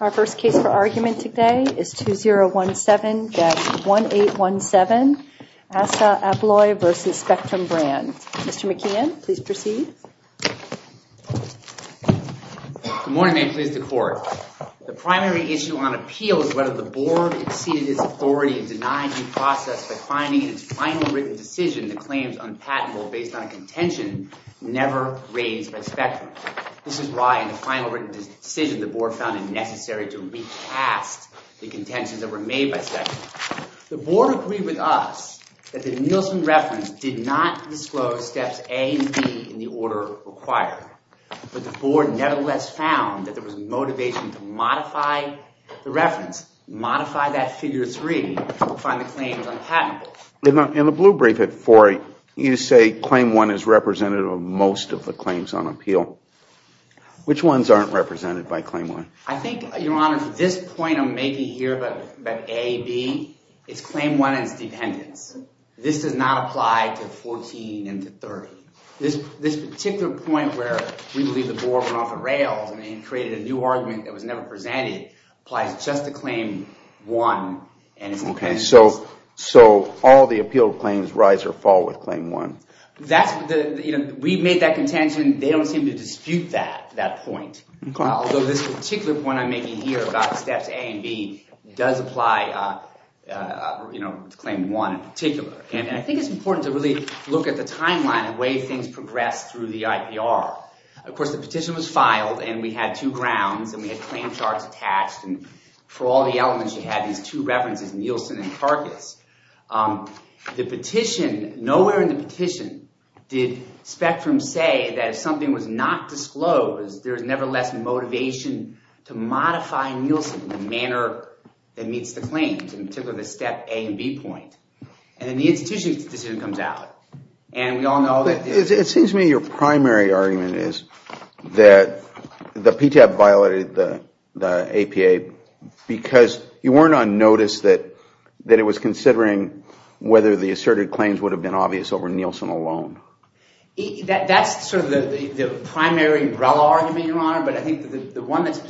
Our first case for argument today is 2017-1817, Assa Abloy v. Spectrum Brands. Mr. McKeon, please proceed. Good morning, ma'am. Please, the court. The primary issue on appeal is whether the board exceeded its authority in denying due process by finding in its final written decision the claims unpatentable based on a contention never raised by Spectrum. This is why in the final written decision the board found it necessary to recast the contentions that were made by Spectrum. The board agreed with us that the Nielsen reference did not disclose steps A and B in the order required. But the board nevertheless found that there was motivation to modify the reference, modify that figure 3 to find the claims unpatentable. In the blue brief at 4, you say Claim 1 is representative of most of the claims on appeal. Which ones aren't represented by Claim 1? I think, Your Honor, this point I'm making here about A, B, it's Claim 1 and its dependents. This does not apply to 14 and to 30. This particular point where we believe the board went off the rails and created a new argument that was never presented applies just to Claim 1 and its dependents. So all the appeal claims rise or fall with Claim 1? We've made that contention. They don't seem to dispute that point. Although this particular point I'm making here about steps A and B does apply to Claim 1 in particular. And I think it's important to really look at the timeline and the way things progress through the IPR. Of course, the petition was filed and we had two grounds and we had claim charts attached. And for all the elements, you had these two references, Nielsen and Karkos. Nowhere in the petition did Spectrum say that if something was not disclosed, there's never less motivation to modify Nielsen in the manner that meets the claims. In particular, the step A and B point. And then the institution's decision comes out. It seems to me your primary argument is that the PTAB violated the APA because you weren't on notice that it was considering whether the asserted claims would have been obvious over Nielsen alone. That's sort of the primary umbrella argument, Your Honor. But I think the one that's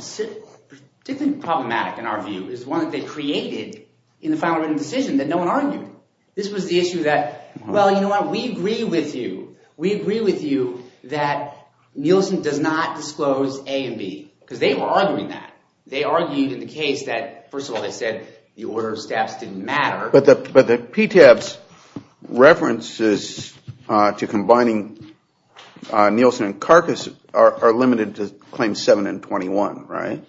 particularly problematic in our view is one that they created in the final written decision that no one argued. This was the issue that, well, you know what, we agree with you. We agree with you that Nielsen does not disclose A and B because they were arguing that. They argued in the case that, first of all, they said the order of steps didn't matter. But the PTAB's references to combining Nielsen and Karkos are limited to Claim 7 and 21, right?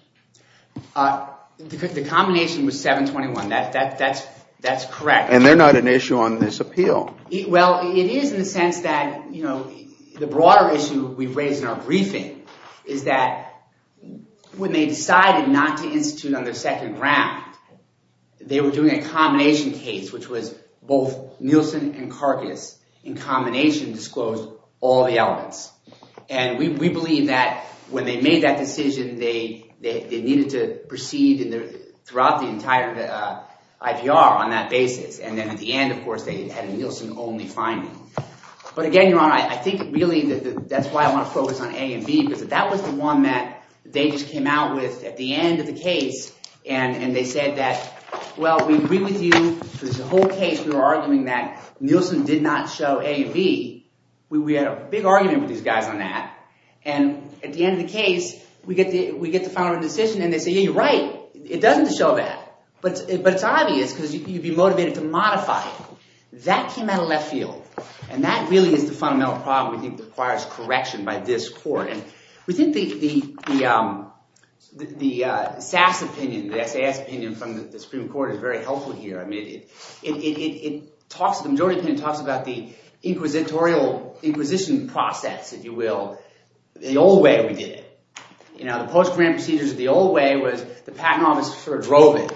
The combination was 7 and 21. That's correct. And they're not an issue on this appeal. Well, it is in the sense that the broader issue we've raised in our briefing is that when they decided not to institute on their second round, they were doing a combination case, which was both Nielsen and Karkos in combination disclosed all the elements. And we believe that when they made that decision, they needed to proceed throughout the entire IVR on that basis. And then at the end, of course, they had a Nielsen-only finding. But again, Your Honor, I think really that's why I want to focus on A and B because that was the one that they just came out with at the end of the case. And they said that, well, we agree with you because the whole case we were arguing that Nielsen did not show A and B. We had a big argument with these guys on that. And at the end of the case, we get the final decision. And they say, yeah, you're right. It doesn't show that. But it's obvious because you'd be motivated to modify it. That came out of left field. And that really is the fundamental problem we think requires correction by this court. And we think the SAS opinion from the Supreme Court is very helpful here. The majority opinion talks about the inquisitorial inquisition process, if you will, the old way we did it. The post-grand procedures of the old way was the patent office sort of drove it.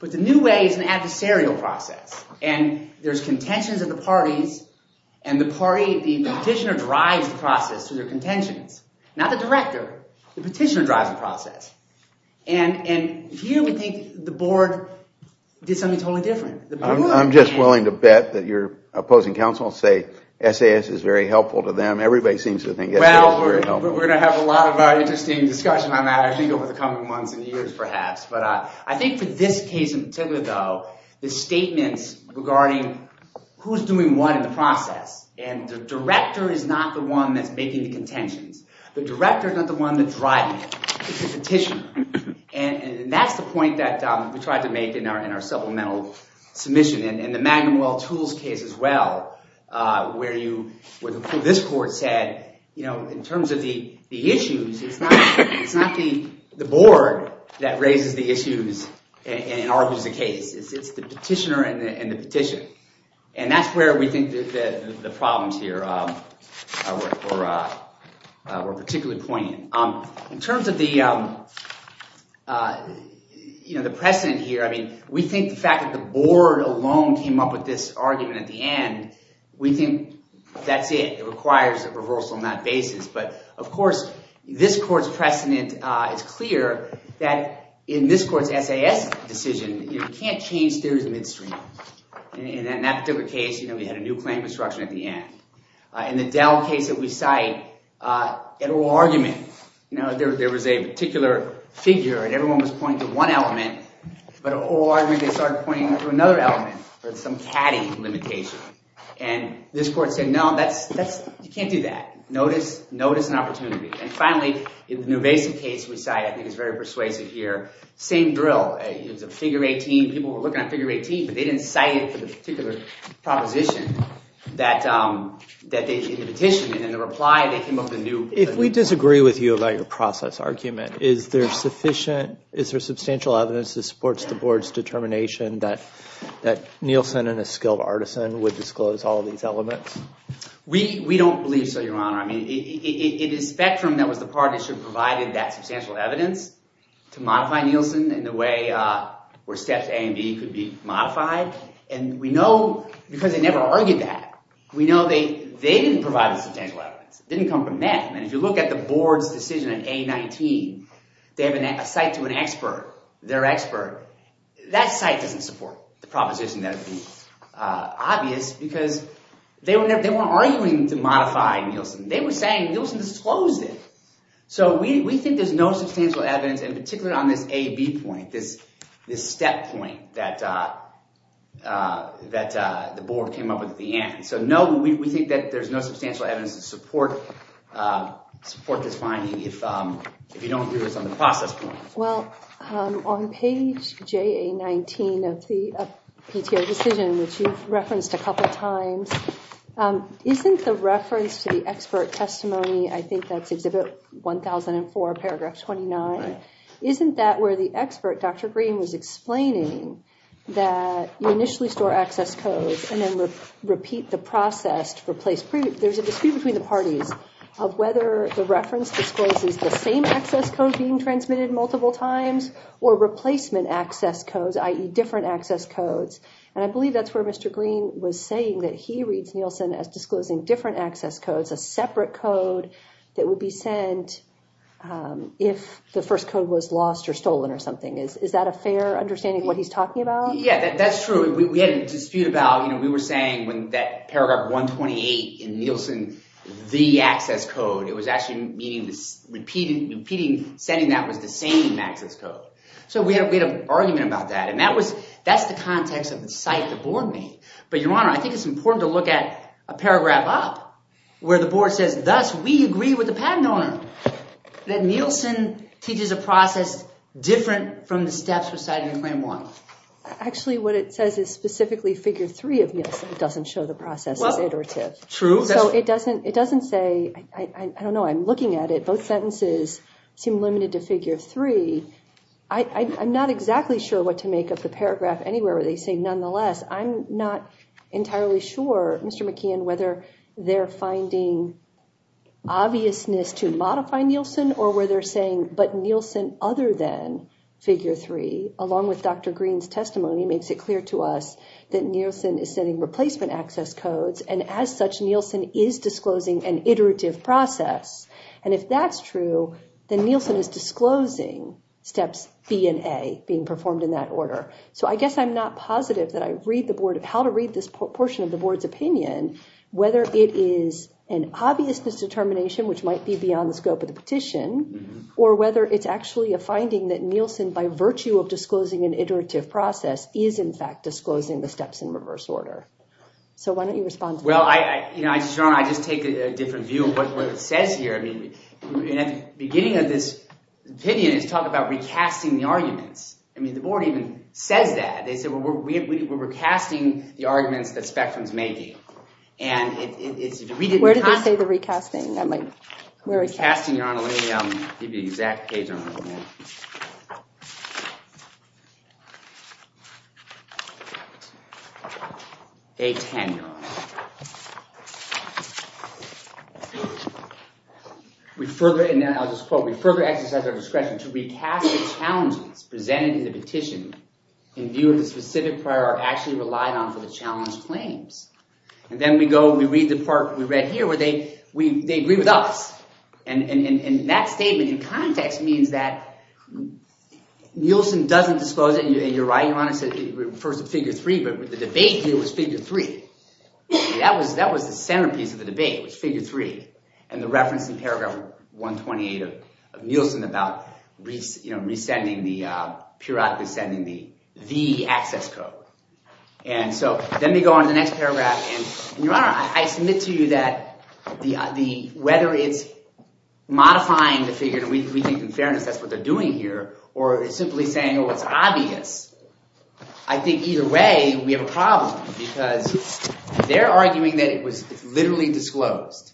But the new way is an adversarial process. And there's contentions of the parties. And the petitioner drives the process through their contentions. Not the director. The petitioner drives the process. And here we think the board did something totally different. I'm just willing to bet that your opposing counsels say SAS is very helpful to them. Everybody seems to think SAS is very helpful. Well, we're going to have a lot of interesting discussion on that, I think, over the coming months and years perhaps. But I think for this case in particular, though, the statements regarding who's doing what in the process. And the director is not the one that's making the contentions. The director is not the one that's driving it. It's the petitioner. And that's the point that we tried to make in our supplemental submission. And in the Magnum Oil Tools case as well, where this court said, you know, in terms of the issues, it's not the board that raises the issues and argues the case. It's the petitioner and the petition. And that's where we think the problems here were particularly poignant. In terms of the precedent here, I mean, we think the fact that the board alone came up with this argument at the end, we think that's it. It requires a reversal on that basis. But, of course, this court's precedent is clear that in this court's SAS decision, you can't change theories midstream. And in that particular case, we had a new claim construction at the end. In the Dell case that we cite, an oral argument, there was a particular figure, and everyone was pointing to one element. But an oral argument, they started pointing to another element or some caddy limitation. And this court said, no, you can't do that. Notice an opportunity. And finally, in the Nuvesi case we cite, I think it's very persuasive here, same drill. It's a figure 18. People were looking at figure 18, but they didn't cite it for the particular proposition that they did in the petition. And in the reply, they came up with a new— If we disagree with you about your process argument, is there sufficient—is there substantial evidence that supports the board's determination that Nielsen, in his skill of artisan, would disclose all of these elements? We don't believe so, Your Honor. I mean, it is Spectrum that was the part that should have provided that substantial evidence to modify Nielsen in the way where steps A and B could be modified. And we know, because they never argued that, we know they didn't provide the substantial evidence. It didn't come from them. And if you look at the board's decision in A19, they have a cite to an expert, their expert. That cite doesn't support the proposition that would be obvious because they weren't arguing to modify Nielsen. They were saying Nielsen disclosed it. So we think there's no substantial evidence, in particular on this A-B point, this step point that the board came up with at the end. So no, we think that there's no substantial evidence to support this finding if you don't agree with us on the process point. Well, on page JA19 of the PTO decision, which you've referenced a couple of times, isn't the reference to the expert testimony, I think that's Exhibit 1004, Paragraph 29. Right. Isn't that where the expert, Dr. Green, was explaining that you initially store access codes and then repeat the process to replace previous? There's a dispute between the parties of whether the reference discloses the same access code being transmitted multiple times or replacement access codes, i.e. different access codes. And I believe that's where Mr. Green was saying that he reads Nielsen as disclosing different access codes, a separate code that would be sent if the first code was lost or stolen or something. Is that a fair understanding of what he's talking about? Yeah, that's true. We had a dispute about, you know, we were saying when that Paragraph 128 in Nielsen, the access code, it was actually meaning the repeating sending that was the same access code. So we had an argument about that. And that's the context of the cite the board made. But, Your Honor, I think it's important to look at a paragraph up where the board says, thus, we agree with the patent owner that Nielsen teaches a process different from the steps recited in Claim 1. Actually, what it says is specifically figure three of Nielsen. It doesn't show the process is iterative. True. So it doesn't say, I don't know, I'm looking at it, both sentences seem limited to figure three. I'm not exactly sure what to make of the paragraph anywhere where they say, nonetheless, I'm not entirely sure, Mr. McKeon, whether they're finding obviousness to modify Nielsen or where they're saying, but Nielsen, other than figure three, along with Dr. Green's testimony, makes it clear to us that Nielsen is sending replacement access codes. And as such, Nielsen is disclosing an iterative process. And if that's true, then Nielsen is disclosing steps B and A being performed in that order. So I guess I'm not positive that I read the board, how to read this portion of the board's opinion, whether it is an obviousness determination, which might be beyond the scope of the petition, or whether it's actually a finding that Nielsen, by virtue of disclosing an iterative process, is in fact disclosing the steps in reverse order. So why don't you respond to that? Well, Your Honor, I just take a different view of what it says here. I mean, at the beginning of this opinion, it's talking about recasting the arguments. I mean, the board even says that. They say, well, we're recasting the arguments that Spectrum's making. And if we didn't have— Where did they say the recasting? Recasting, Your Honor, let me give you the exact page number. I'll just quote. We further exercise our discretion to recast the challenges presented in the petition in view of the specific prior actually relied on for the challenge claims. And then we go and we read the part we read here where they agree with us. And that statement in context means that Nielsen doesn't disclose it. And you're right, Your Honor, it refers to figure three. But the debate here was figure three. That was the centerpiece of the debate, was figure three. And the reference in paragraph 128 of Nielsen about resending the—periodically sending the access code. And so then we go on to the next paragraph. And, Your Honor, I submit to you that whether it's modifying the figure, and we think in fairness that's what they're doing here, or simply saying, oh, it's obvious. I think either way we have a problem because they're arguing that it was literally disclosed.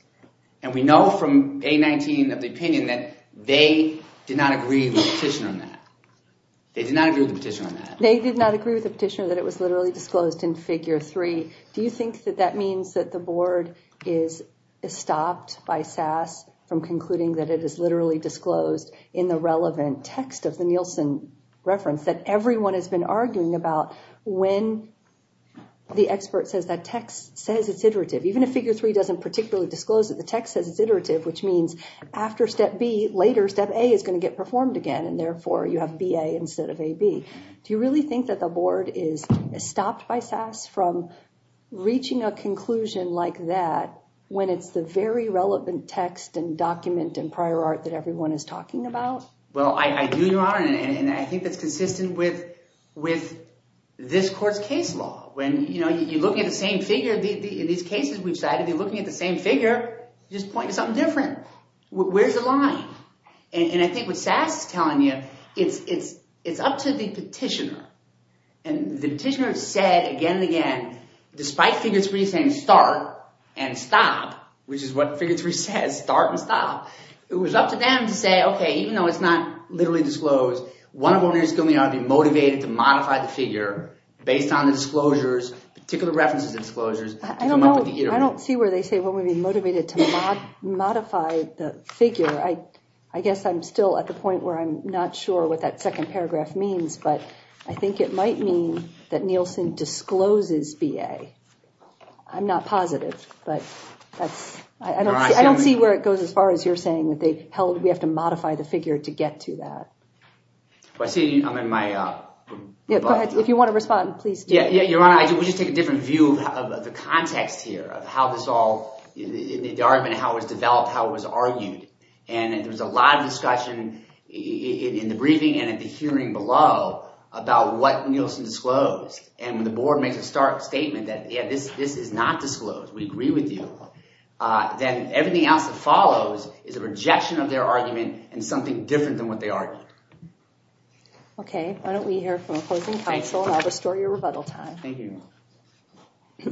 And we know from A19 of the opinion that they did not agree with the petition on that. They did not agree with the petition on that. They did not agree with the petition that it was literally disclosed in figure three. Do you think that that means that the board is stopped by SAS from concluding that it is literally disclosed in the relevant text of the Nielsen reference that everyone has been arguing about when the expert says that text says it's iterative? Even if figure three doesn't particularly disclose that the text says it's iterative, which means after step B, later step A is going to get performed again, and therefore you have B-A instead of A-B. Do you really think that the board is stopped by SAS from reaching a conclusion like that when it's the very relevant text and document and prior art that everyone is talking about? Well, I do, Your Honor, and I think that's consistent with this court's case law. When you're looking at the same figure, in these cases we've cited, if you're looking at the same figure, you're just pointing to something different. Where's the line? And I think what SAS is telling you, it's up to the petitioner. And the petitioner said again and again, despite figure three saying start and stop, which is what figure three says, start and stop, it was up to them to say, okay, even though it's not literally disclosed, one of the owners is going to be motivated to modify the figure based on the disclosure. I don't see where they say one would be motivated to modify the figure. I guess I'm still at the point where I'm not sure what that second paragraph means, but I think it might mean that Nielsen discloses B-A. I'm not positive, but I don't see where it goes as far as you're saying that we have to modify the figure to get to that. I'm in my – Go ahead. If you want to respond, please do. Your Honor, we'll just take a different view of the context here of how this all – the argument, how it was developed, how it was argued. And there was a lot of discussion in the briefing and at the hearing below about what Nielsen disclosed. And when the board makes a stark statement that, yeah, this is not disclosed, we agree with you, then everything else that follows is a rejection of their argument and something different than what they argued. Okay. Why don't we hear from the closing counsel, and I'll restore your rebuttal time. Thank you. Good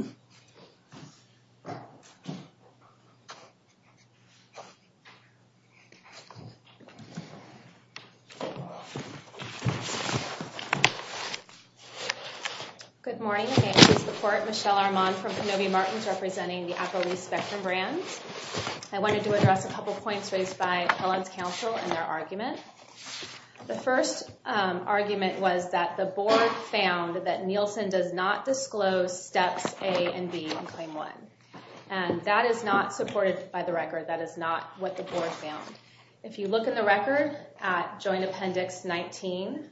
morning. I'm here to support Michelle Armand from Kenobi Martins representing the Applebee's Spectrum Brands. I wanted to address a couple points raised by Ellen's counsel and their argument. The first argument was that the board found that Nielsen does not disclose steps A and B in Claim 1, and that is not supported by the record. That is not what the board found. If you look in the record at Joint Appendix 19,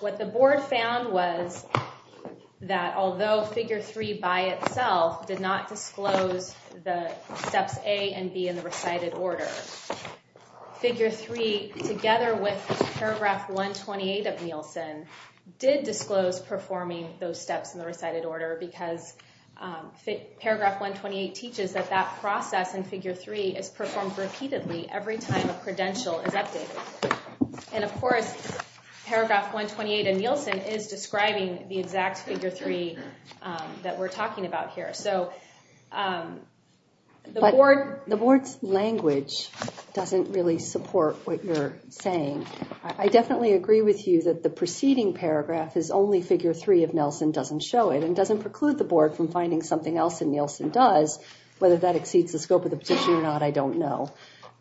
what the board found was that although Figure 3 by itself did not disclose the steps A and B in the recited order, Figure 3 together with Paragraph 128 of Nielsen did disclose performing those steps in the recited order because Paragraph 128 teaches that that process in Figure 3 is performed repeatedly every time a credential is updated. And, of course, Paragraph 128 of Nielsen is describing the exact Figure 3 that we're talking about here. But the board's language doesn't really support what you're saying. I definitely agree with you that the preceding paragraph is only Figure 3 if Nielsen doesn't show it and doesn't preclude the board from finding something else that Nielsen does. Whether that exceeds the scope of the position or not, I don't know.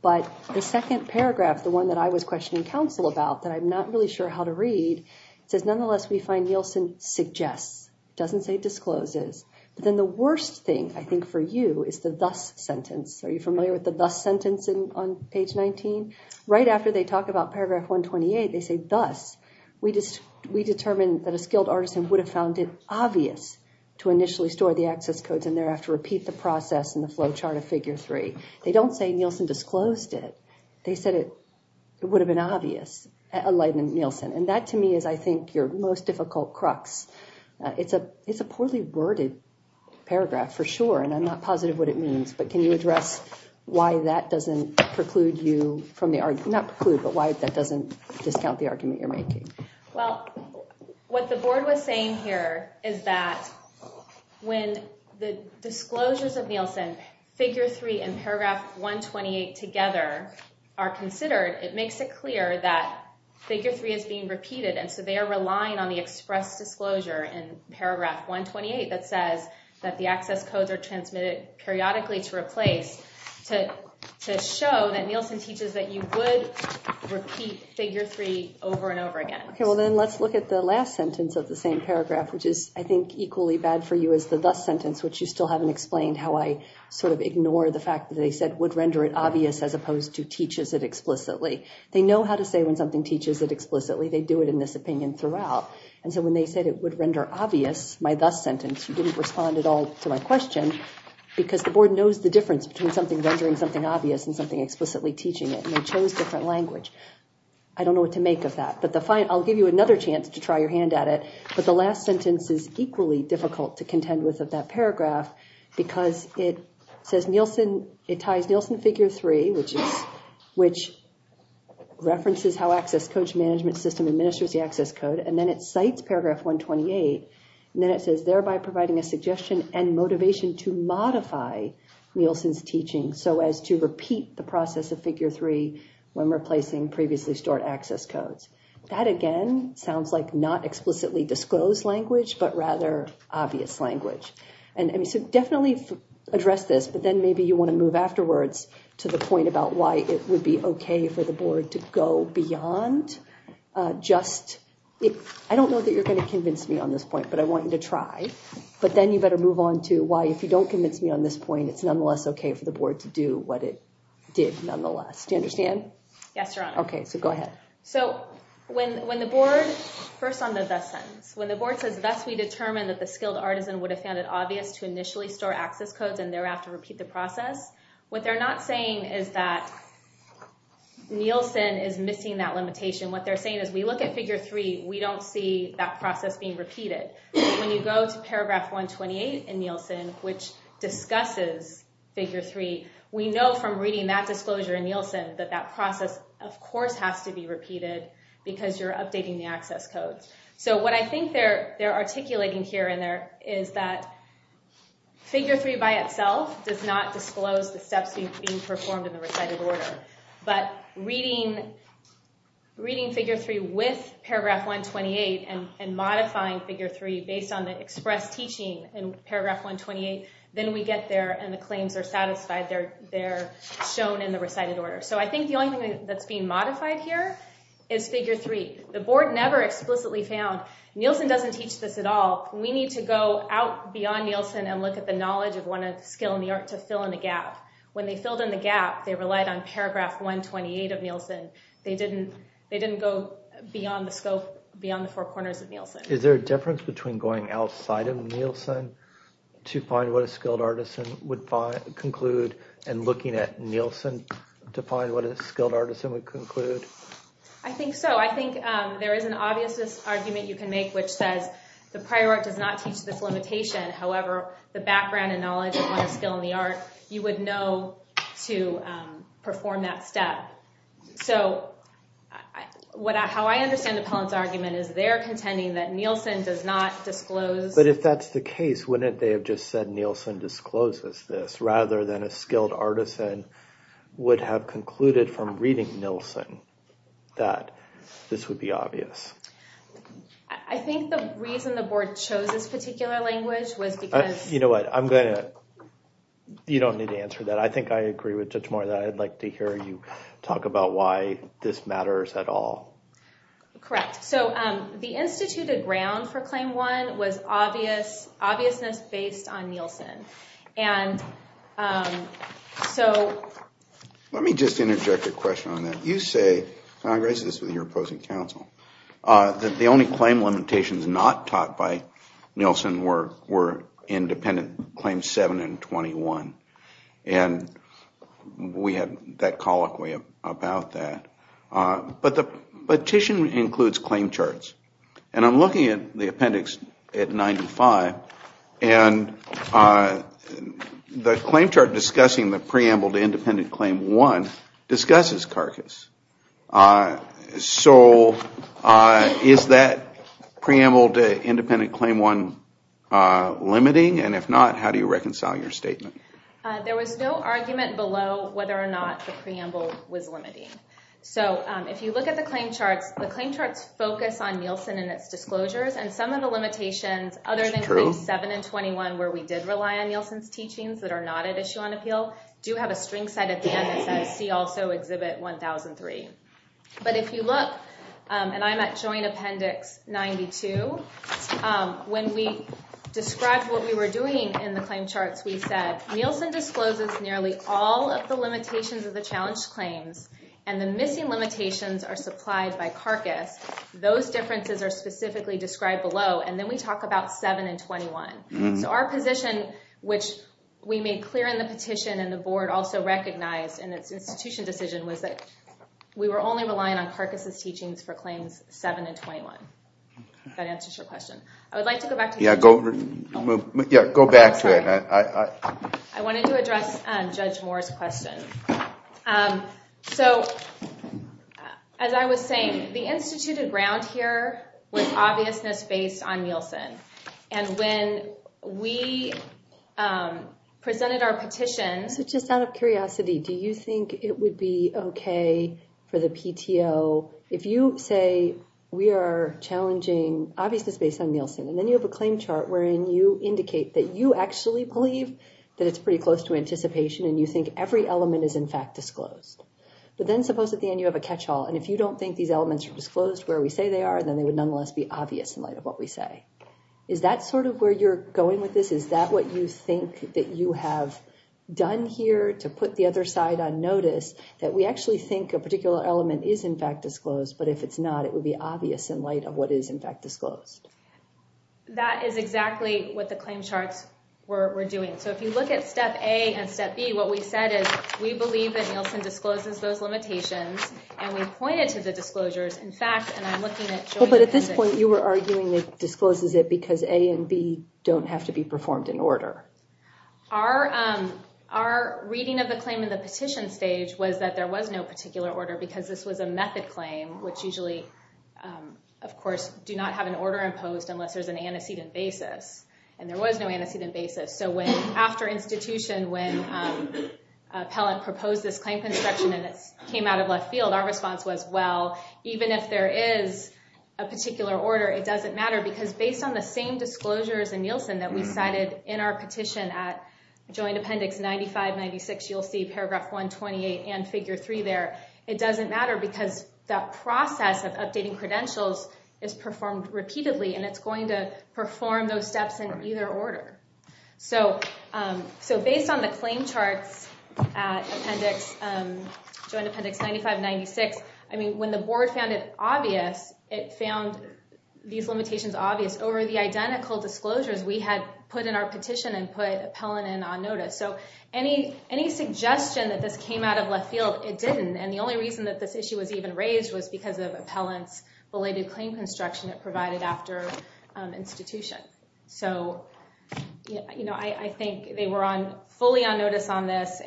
But the second paragraph, the one that I was questioning counsel about that I'm not really sure how to read, says, nonetheless, we find Nielsen suggests. It doesn't say discloses. But then the worst thing, I think, for you is the thus sentence. Are you familiar with the thus sentence on Page 19? Right after they talk about Paragraph 128, they say thus, we determined that a skilled artisan would have found it obvious to initially store the access codes and thereafter repeat the process in the flow chart of Figure 3. They don't say Nielsen disclosed it. They said it would have been obvious, enlightened Nielsen. And that, to me, is, I think, your most difficult crux. It's a poorly worded paragraph, for sure, and I'm not positive what it means. But can you address why that doesn't preclude you from the argument? Not preclude, but why that doesn't discount the argument you're making? Well, what the board was saying here is that when the disclosures of Nielsen, Figure 3 and Paragraph 128 together are considered, it makes it clear that Figure 3 is being repeated. And so they are relying on the express disclosure in Paragraph 128 that says that the access codes are transmitted periodically to replace to show that Nielsen teaches that you would repeat Figure 3 over and over again. OK, well, then let's look at the last sentence of the same paragraph, which is, I think, equally bad for you as the thus sentence, which you still haven't explained how I sort of ignore the fact that they said would render it obvious as opposed to teaches it explicitly. They know how to say when something teaches it explicitly. They do it in this opinion throughout. And so when they said it would render obvious, my thus sentence, you didn't respond at all to my question because the board knows the difference between something rendering something obvious and something explicitly teaching it, and they chose different language. I don't know what to make of that, but I'll give you another chance to try your hand at it. But the last sentence is equally difficult to contend with of that paragraph, because it says Nielsen, it ties Nielsen Figure 3, which is, which references how access codes management system administers the access code and then it cites Paragraph 128. And then it says, thereby providing a suggestion and motivation to modify Nielsen's teaching so as to repeat the process of Figure 3 when replacing previously stored access codes. That, again, sounds like not explicitly disclosed language, but rather obvious language. And so definitely address this, but then maybe you want to move afterwards to the point about why it would be okay for the board to go beyond just, I don't know that you're going to convince me on this point, but I want you to try. But then you better move on to why if you don't convince me on this point, it's nonetheless okay for the board to do what it did nonetheless. Do you understand? Yes, Your Honor. Okay, so go ahead. So when the board, first on the thus sentence, when the board says thus we determine that the skilled artisan would have found it obvious to initially store access codes and thereafter repeat the process, what they're not saying is that Nielsen is missing that limitation. What they're saying is we look at Figure 3, we don't see that process being repeated. When you go to Paragraph 128 in Nielsen, which discusses Figure 3, we know from reading that disclosure in Nielsen that that process, of course, has to be repeated because you're updating the access codes. So what I think they're articulating here and there is that Figure 3 by itself does not disclose the steps being performed in the recited order, but reading Figure 3 with Paragraph 128 and modifying Figure 3 based on the express teaching in Paragraph 128, then we get there and the claims are satisfied, they're shown in the recited order. So I think the only thing that's being modified here is Figure 3. The board never explicitly found Nielsen doesn't teach this at all. We need to go out beyond Nielsen and look at the knowledge of one skill in the art to fill in the gap. When they filled in the gap, they relied on Paragraph 128 of Nielsen. They didn't go beyond the scope, beyond the four corners of Nielsen. Is there a difference between going outside of Nielsen to find what a skilled artisan would conclude and looking at Nielsen to find what a skilled artisan would conclude? I think so. I think there is an obvious argument you can make which says the prior art does not teach this limitation. However, the background and knowledge of one skill in the art, you would know to perform that step. So how I understand Appellant's argument is they're contending that Nielsen does not disclose. But if that's the case, wouldn't they have just said Nielsen discloses this rather than a skilled artisan would have concluded from reading Nielsen that this would be obvious? I think the reason the board chose this particular language was because – You know what? I'm going to – you don't need to answer that. I think I agree with Judge Moore that I'd like to hear you talk about why this matters at all. Correct. So the instituted ground for Claim 1 was obviousness based on Nielsen. And so – Let me just interject a question on that. You say – and I raise this with your opposing counsel – that the only claim limitations not taught by Nielsen were independent Claims 7 and 21. And we had that colloquy about that. But the petition includes claim charts. And I'm looking at the appendix at 95, and the claim chart discussing the preamble to independent Claim 1 discusses carcass. So is that preamble to independent Claim 1 limiting? And if not, how do you reconcile your statement? There was no argument below whether or not the preamble was limiting. So if you look at the claim charts, the claim charts focus on Nielsen and its disclosures. And some of the limitations other than Claims 7 and 21 where we did rely on Nielsen's teachings that are not at issue on appeal do have a string set at the end that says see also Exhibit 1003. But if you look – and I'm at Joint Appendix 92 – when we described what we were doing in the claim charts, we said Nielsen discloses nearly all of the limitations of the challenged claims. And the missing limitations are supplied by carcass. Those differences are specifically described below. And then we talk about 7 and 21. So our position, which we made clear in the petition and the board also recognized in its institution decision, was that we were only relying on carcass' teachings for Claims 7 and 21. If that answers your question. I would like to go back to – Yeah, go back to it. I wanted to address Judge Moore's question. So as I was saying, the instituted ground here was obviousness based on Nielsen. And when we presented our petition – So just out of curiosity, do you think it would be okay for the PTO – if you say we are challenging obviousness based on Nielsen and then you have a claim chart wherein you indicate that you actually believe that it's pretty close to anticipation and you think every element is in fact disclosed. But then suppose at the end you have a catch-all. And if you don't think these elements are disclosed where we say they are, then they would nonetheless be obvious in light of what we say. Is that sort of where you're going with this? Is that what you think that you have done here to put the other side on notice that we actually think a particular element is in fact disclosed? But if it's not, it would be obvious in light of what is in fact disclosed. That is exactly what the claim charts were doing. So if you look at step A and step B, what we said is we believe that Nielsen discloses those limitations. And we pointed to the disclosures. In fact, and I'm looking at – But at this point, you were arguing it discloses it because A and B don't have to be performed in order. Our reading of the claim in the petition stage was that there was no particular order because this was a method claim, which usually, of course, do not have an order imposed unless there's an antecedent basis. And there was no antecedent basis. So after institution, when appellant proposed this claim construction and it came out of left field, our response was, well, even if there is a particular order, it doesn't matter. Because based on the same disclosures in Nielsen that we cited in our petition at Joint Appendix 95-96, you'll see Paragraph 128 and Figure 3 there. It doesn't matter because that process of updating credentials is performed repeatedly, and it's going to perform those steps in either order. So based on the claim charts at Appendix – Joint Appendix 95-96, I mean, when the board found it obvious, it found these limitations obvious. Over the identical disclosures, we had put in our petition and put appellant in on notice. So any suggestion that this came out of left field, it didn't. And the only reason that this issue was even raised was because of appellant's related claim construction it provided after institution. So I think they were fully on notice on this.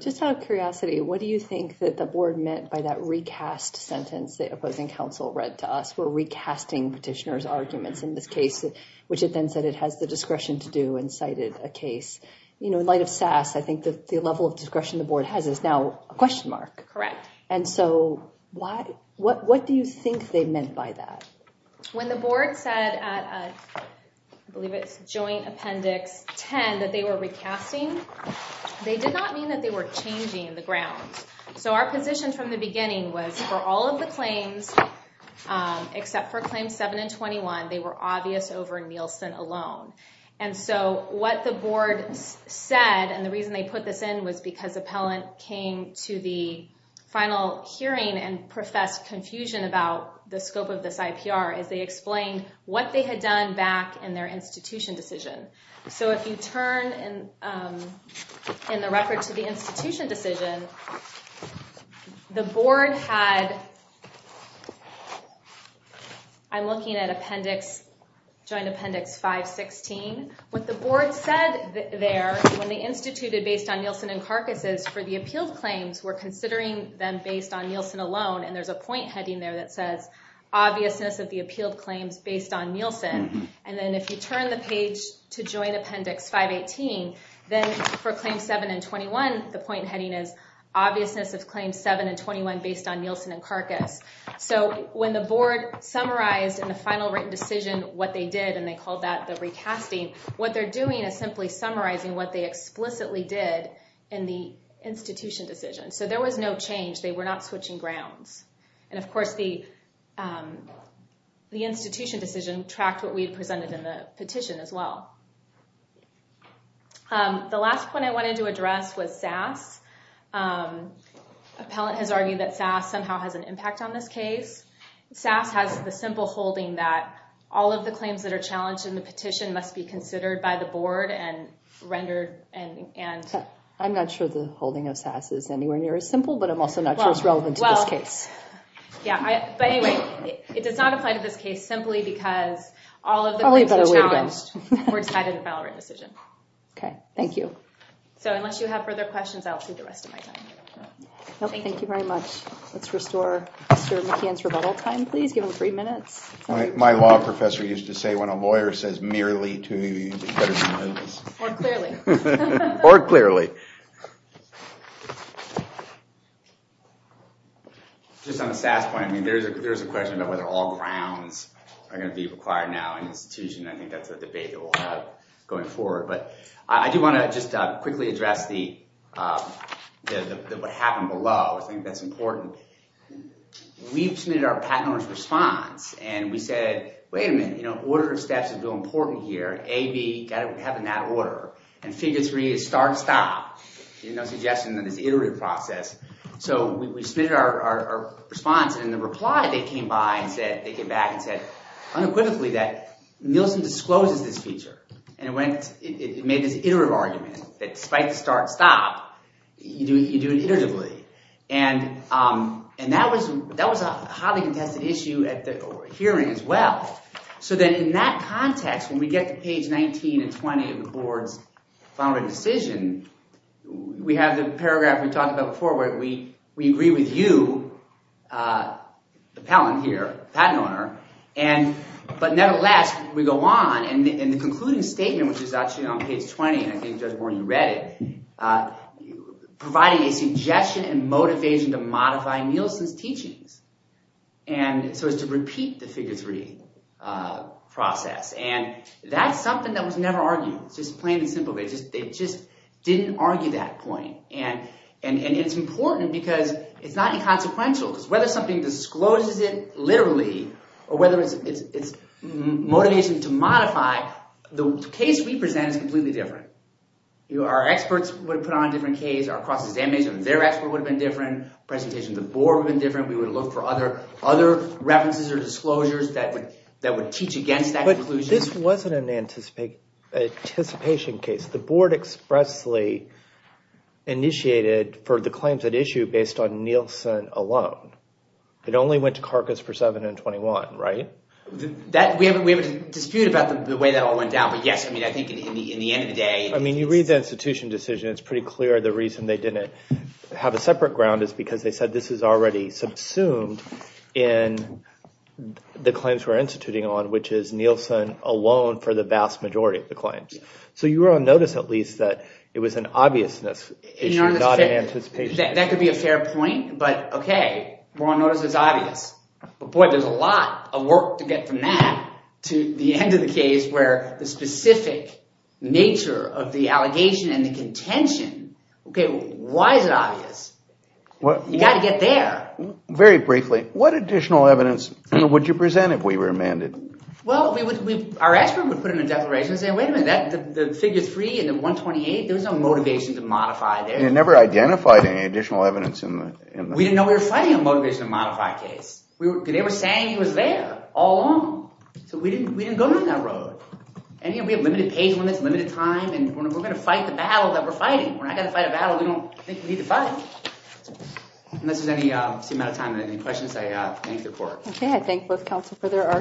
Just out of curiosity, what do you think that the board meant by that recast sentence the opposing counsel read to us? We're recasting petitioner's arguments in this case, which it then said it has the discretion to do and cited a case. In light of SAS, I think the level of discretion the board has is now a question mark. Correct. And so what do you think they meant by that? When the board said, I believe it's Joint Appendix 10, that they were recasting, they did not mean that they were changing the grounds. So our position from the beginning was for all of the claims, except for Claims 7 and 21, they were obvious over Nielsen alone. And so what the board said, and the reason they put this in was because appellant came to the final hearing and professed confusion about the scope of this IPR, is they explained what they had done back in their institution decision. So if you turn in the record to the institution decision, the board had, I'm looking at Appendix, Joint Appendix 516. What the board said there, when they instituted based on Nielsen and Karkas' for the appealed claims, were considering them based on Nielsen alone. And there's a point heading there that says, obviousness of the appealed claims based on Nielsen. And then if you turn the page to Joint Appendix 518, then for Claims 7 and 21, the point heading is obviousness of Claims 7 and 21 based on Nielsen and Karkas. So when the board summarized in the final written decision what they did, and they called that the recasting, what they're doing is simply summarizing what they explicitly did in the institution decision. So there was no change. They were not switching grounds. And of course, the institution decision tracked what we had presented in the petition as well. The last point I wanted to address was SAS. Appellant has argued that SAS somehow has an impact on this case. SAS has the simple holding that all of the claims that are challenged in the petition must be considered by the board and rendered. I'm not sure the holding of SAS is anywhere near as simple, but I'm also not sure it's relevant to this case. Yeah. But anyway, it does not apply to this case simply because all of the claims are challenged. We're excited to file a written decision. OK. Thank you. So unless you have further questions, I'll save the rest of my time. Thank you very much. Let's restore Mr. McKeon's rebuttal time, please. Give him three minutes. My law professor used to say, when a lawyer says merely to you, you better do this. More clearly. More clearly. Just on the SAS point, I mean, there's a question about whether all grounds are going to be required now in the institution. I think that's a debate that we'll have going forward. But I do want to just quickly address what happened below. I think that's important. We've submitted our patent owner's response, and we said, wait a minute, you know, order of steps is real important here. A, B, you've got to have them in that order. And figure three is start, stop. There's no suggestion that it's an iterative process. So we submitted our response, and in the reply, they came back and said unequivocally that Nielsen discloses this feature. And it made this iterative argument that despite the start, stop, you do it iteratively. And that was a highly contested issue at the hearing as well. So then in that context, when we get to page 19 and 20 of the board's final decision, we have the paragraph we talked about before where we agree with you, the patent owner. But nevertheless, we go on. And the concluding statement, which is actually on page 20, and I think Judge Warren, you read it, providing a suggestion and motivation to modify Nielsen's teachings. And so it's to repeat the figure three process. And that's something that was never argued. It's just plain and simple. They just didn't argue that point. And it's important because it's not inconsequential because whether something discloses it literally or whether it's motivation to modify, the case we present is completely different. Our experts would have put on a different case. Our cross-examination, their expert would have been different. Presentation of the board would have been different. We would look for other references or disclosures that would teach against that conclusion. But this wasn't an anticipation case. The board expressly initiated for the claims at issue based on Nielsen alone. It only went to Carcass for 7 and 21, right? We have a dispute about the way that all went down. But yes, I mean, I think in the end of the day. I mean, you read the institution decision. It's pretty clear the reason they didn't have a separate ground is because they said this is already subsumed in the claims we're instituting on, which is Nielsen alone for the vast majority of the claims. So you were on notice, at least, that it was an obviousness issue, not an anticipation. That could be a fair point. But OK, we're on notice it's obvious. But boy, there's a lot of work to get from that to the end of the case where the specific nature of the allegation and the contention. OK, why is it obvious? You've got to get there. Very briefly, what additional evidence would you present if we were amended? Well, our expert would put in a declaration and say, wait a minute, the figure 3 and the 128, there was no motivation to modify there. You never identified any additional evidence in that? We didn't know we were fighting a motivation to modify case. They were saying he was there all along. So we didn't go down that road. And we have limited page limits, limited time. And we're going to fight the battle that we're fighting. We're not going to fight a battle we don't think we need to fight. Unless there's any amount of time and any questions, I thank the court. OK, I thank both counsel for their arguments.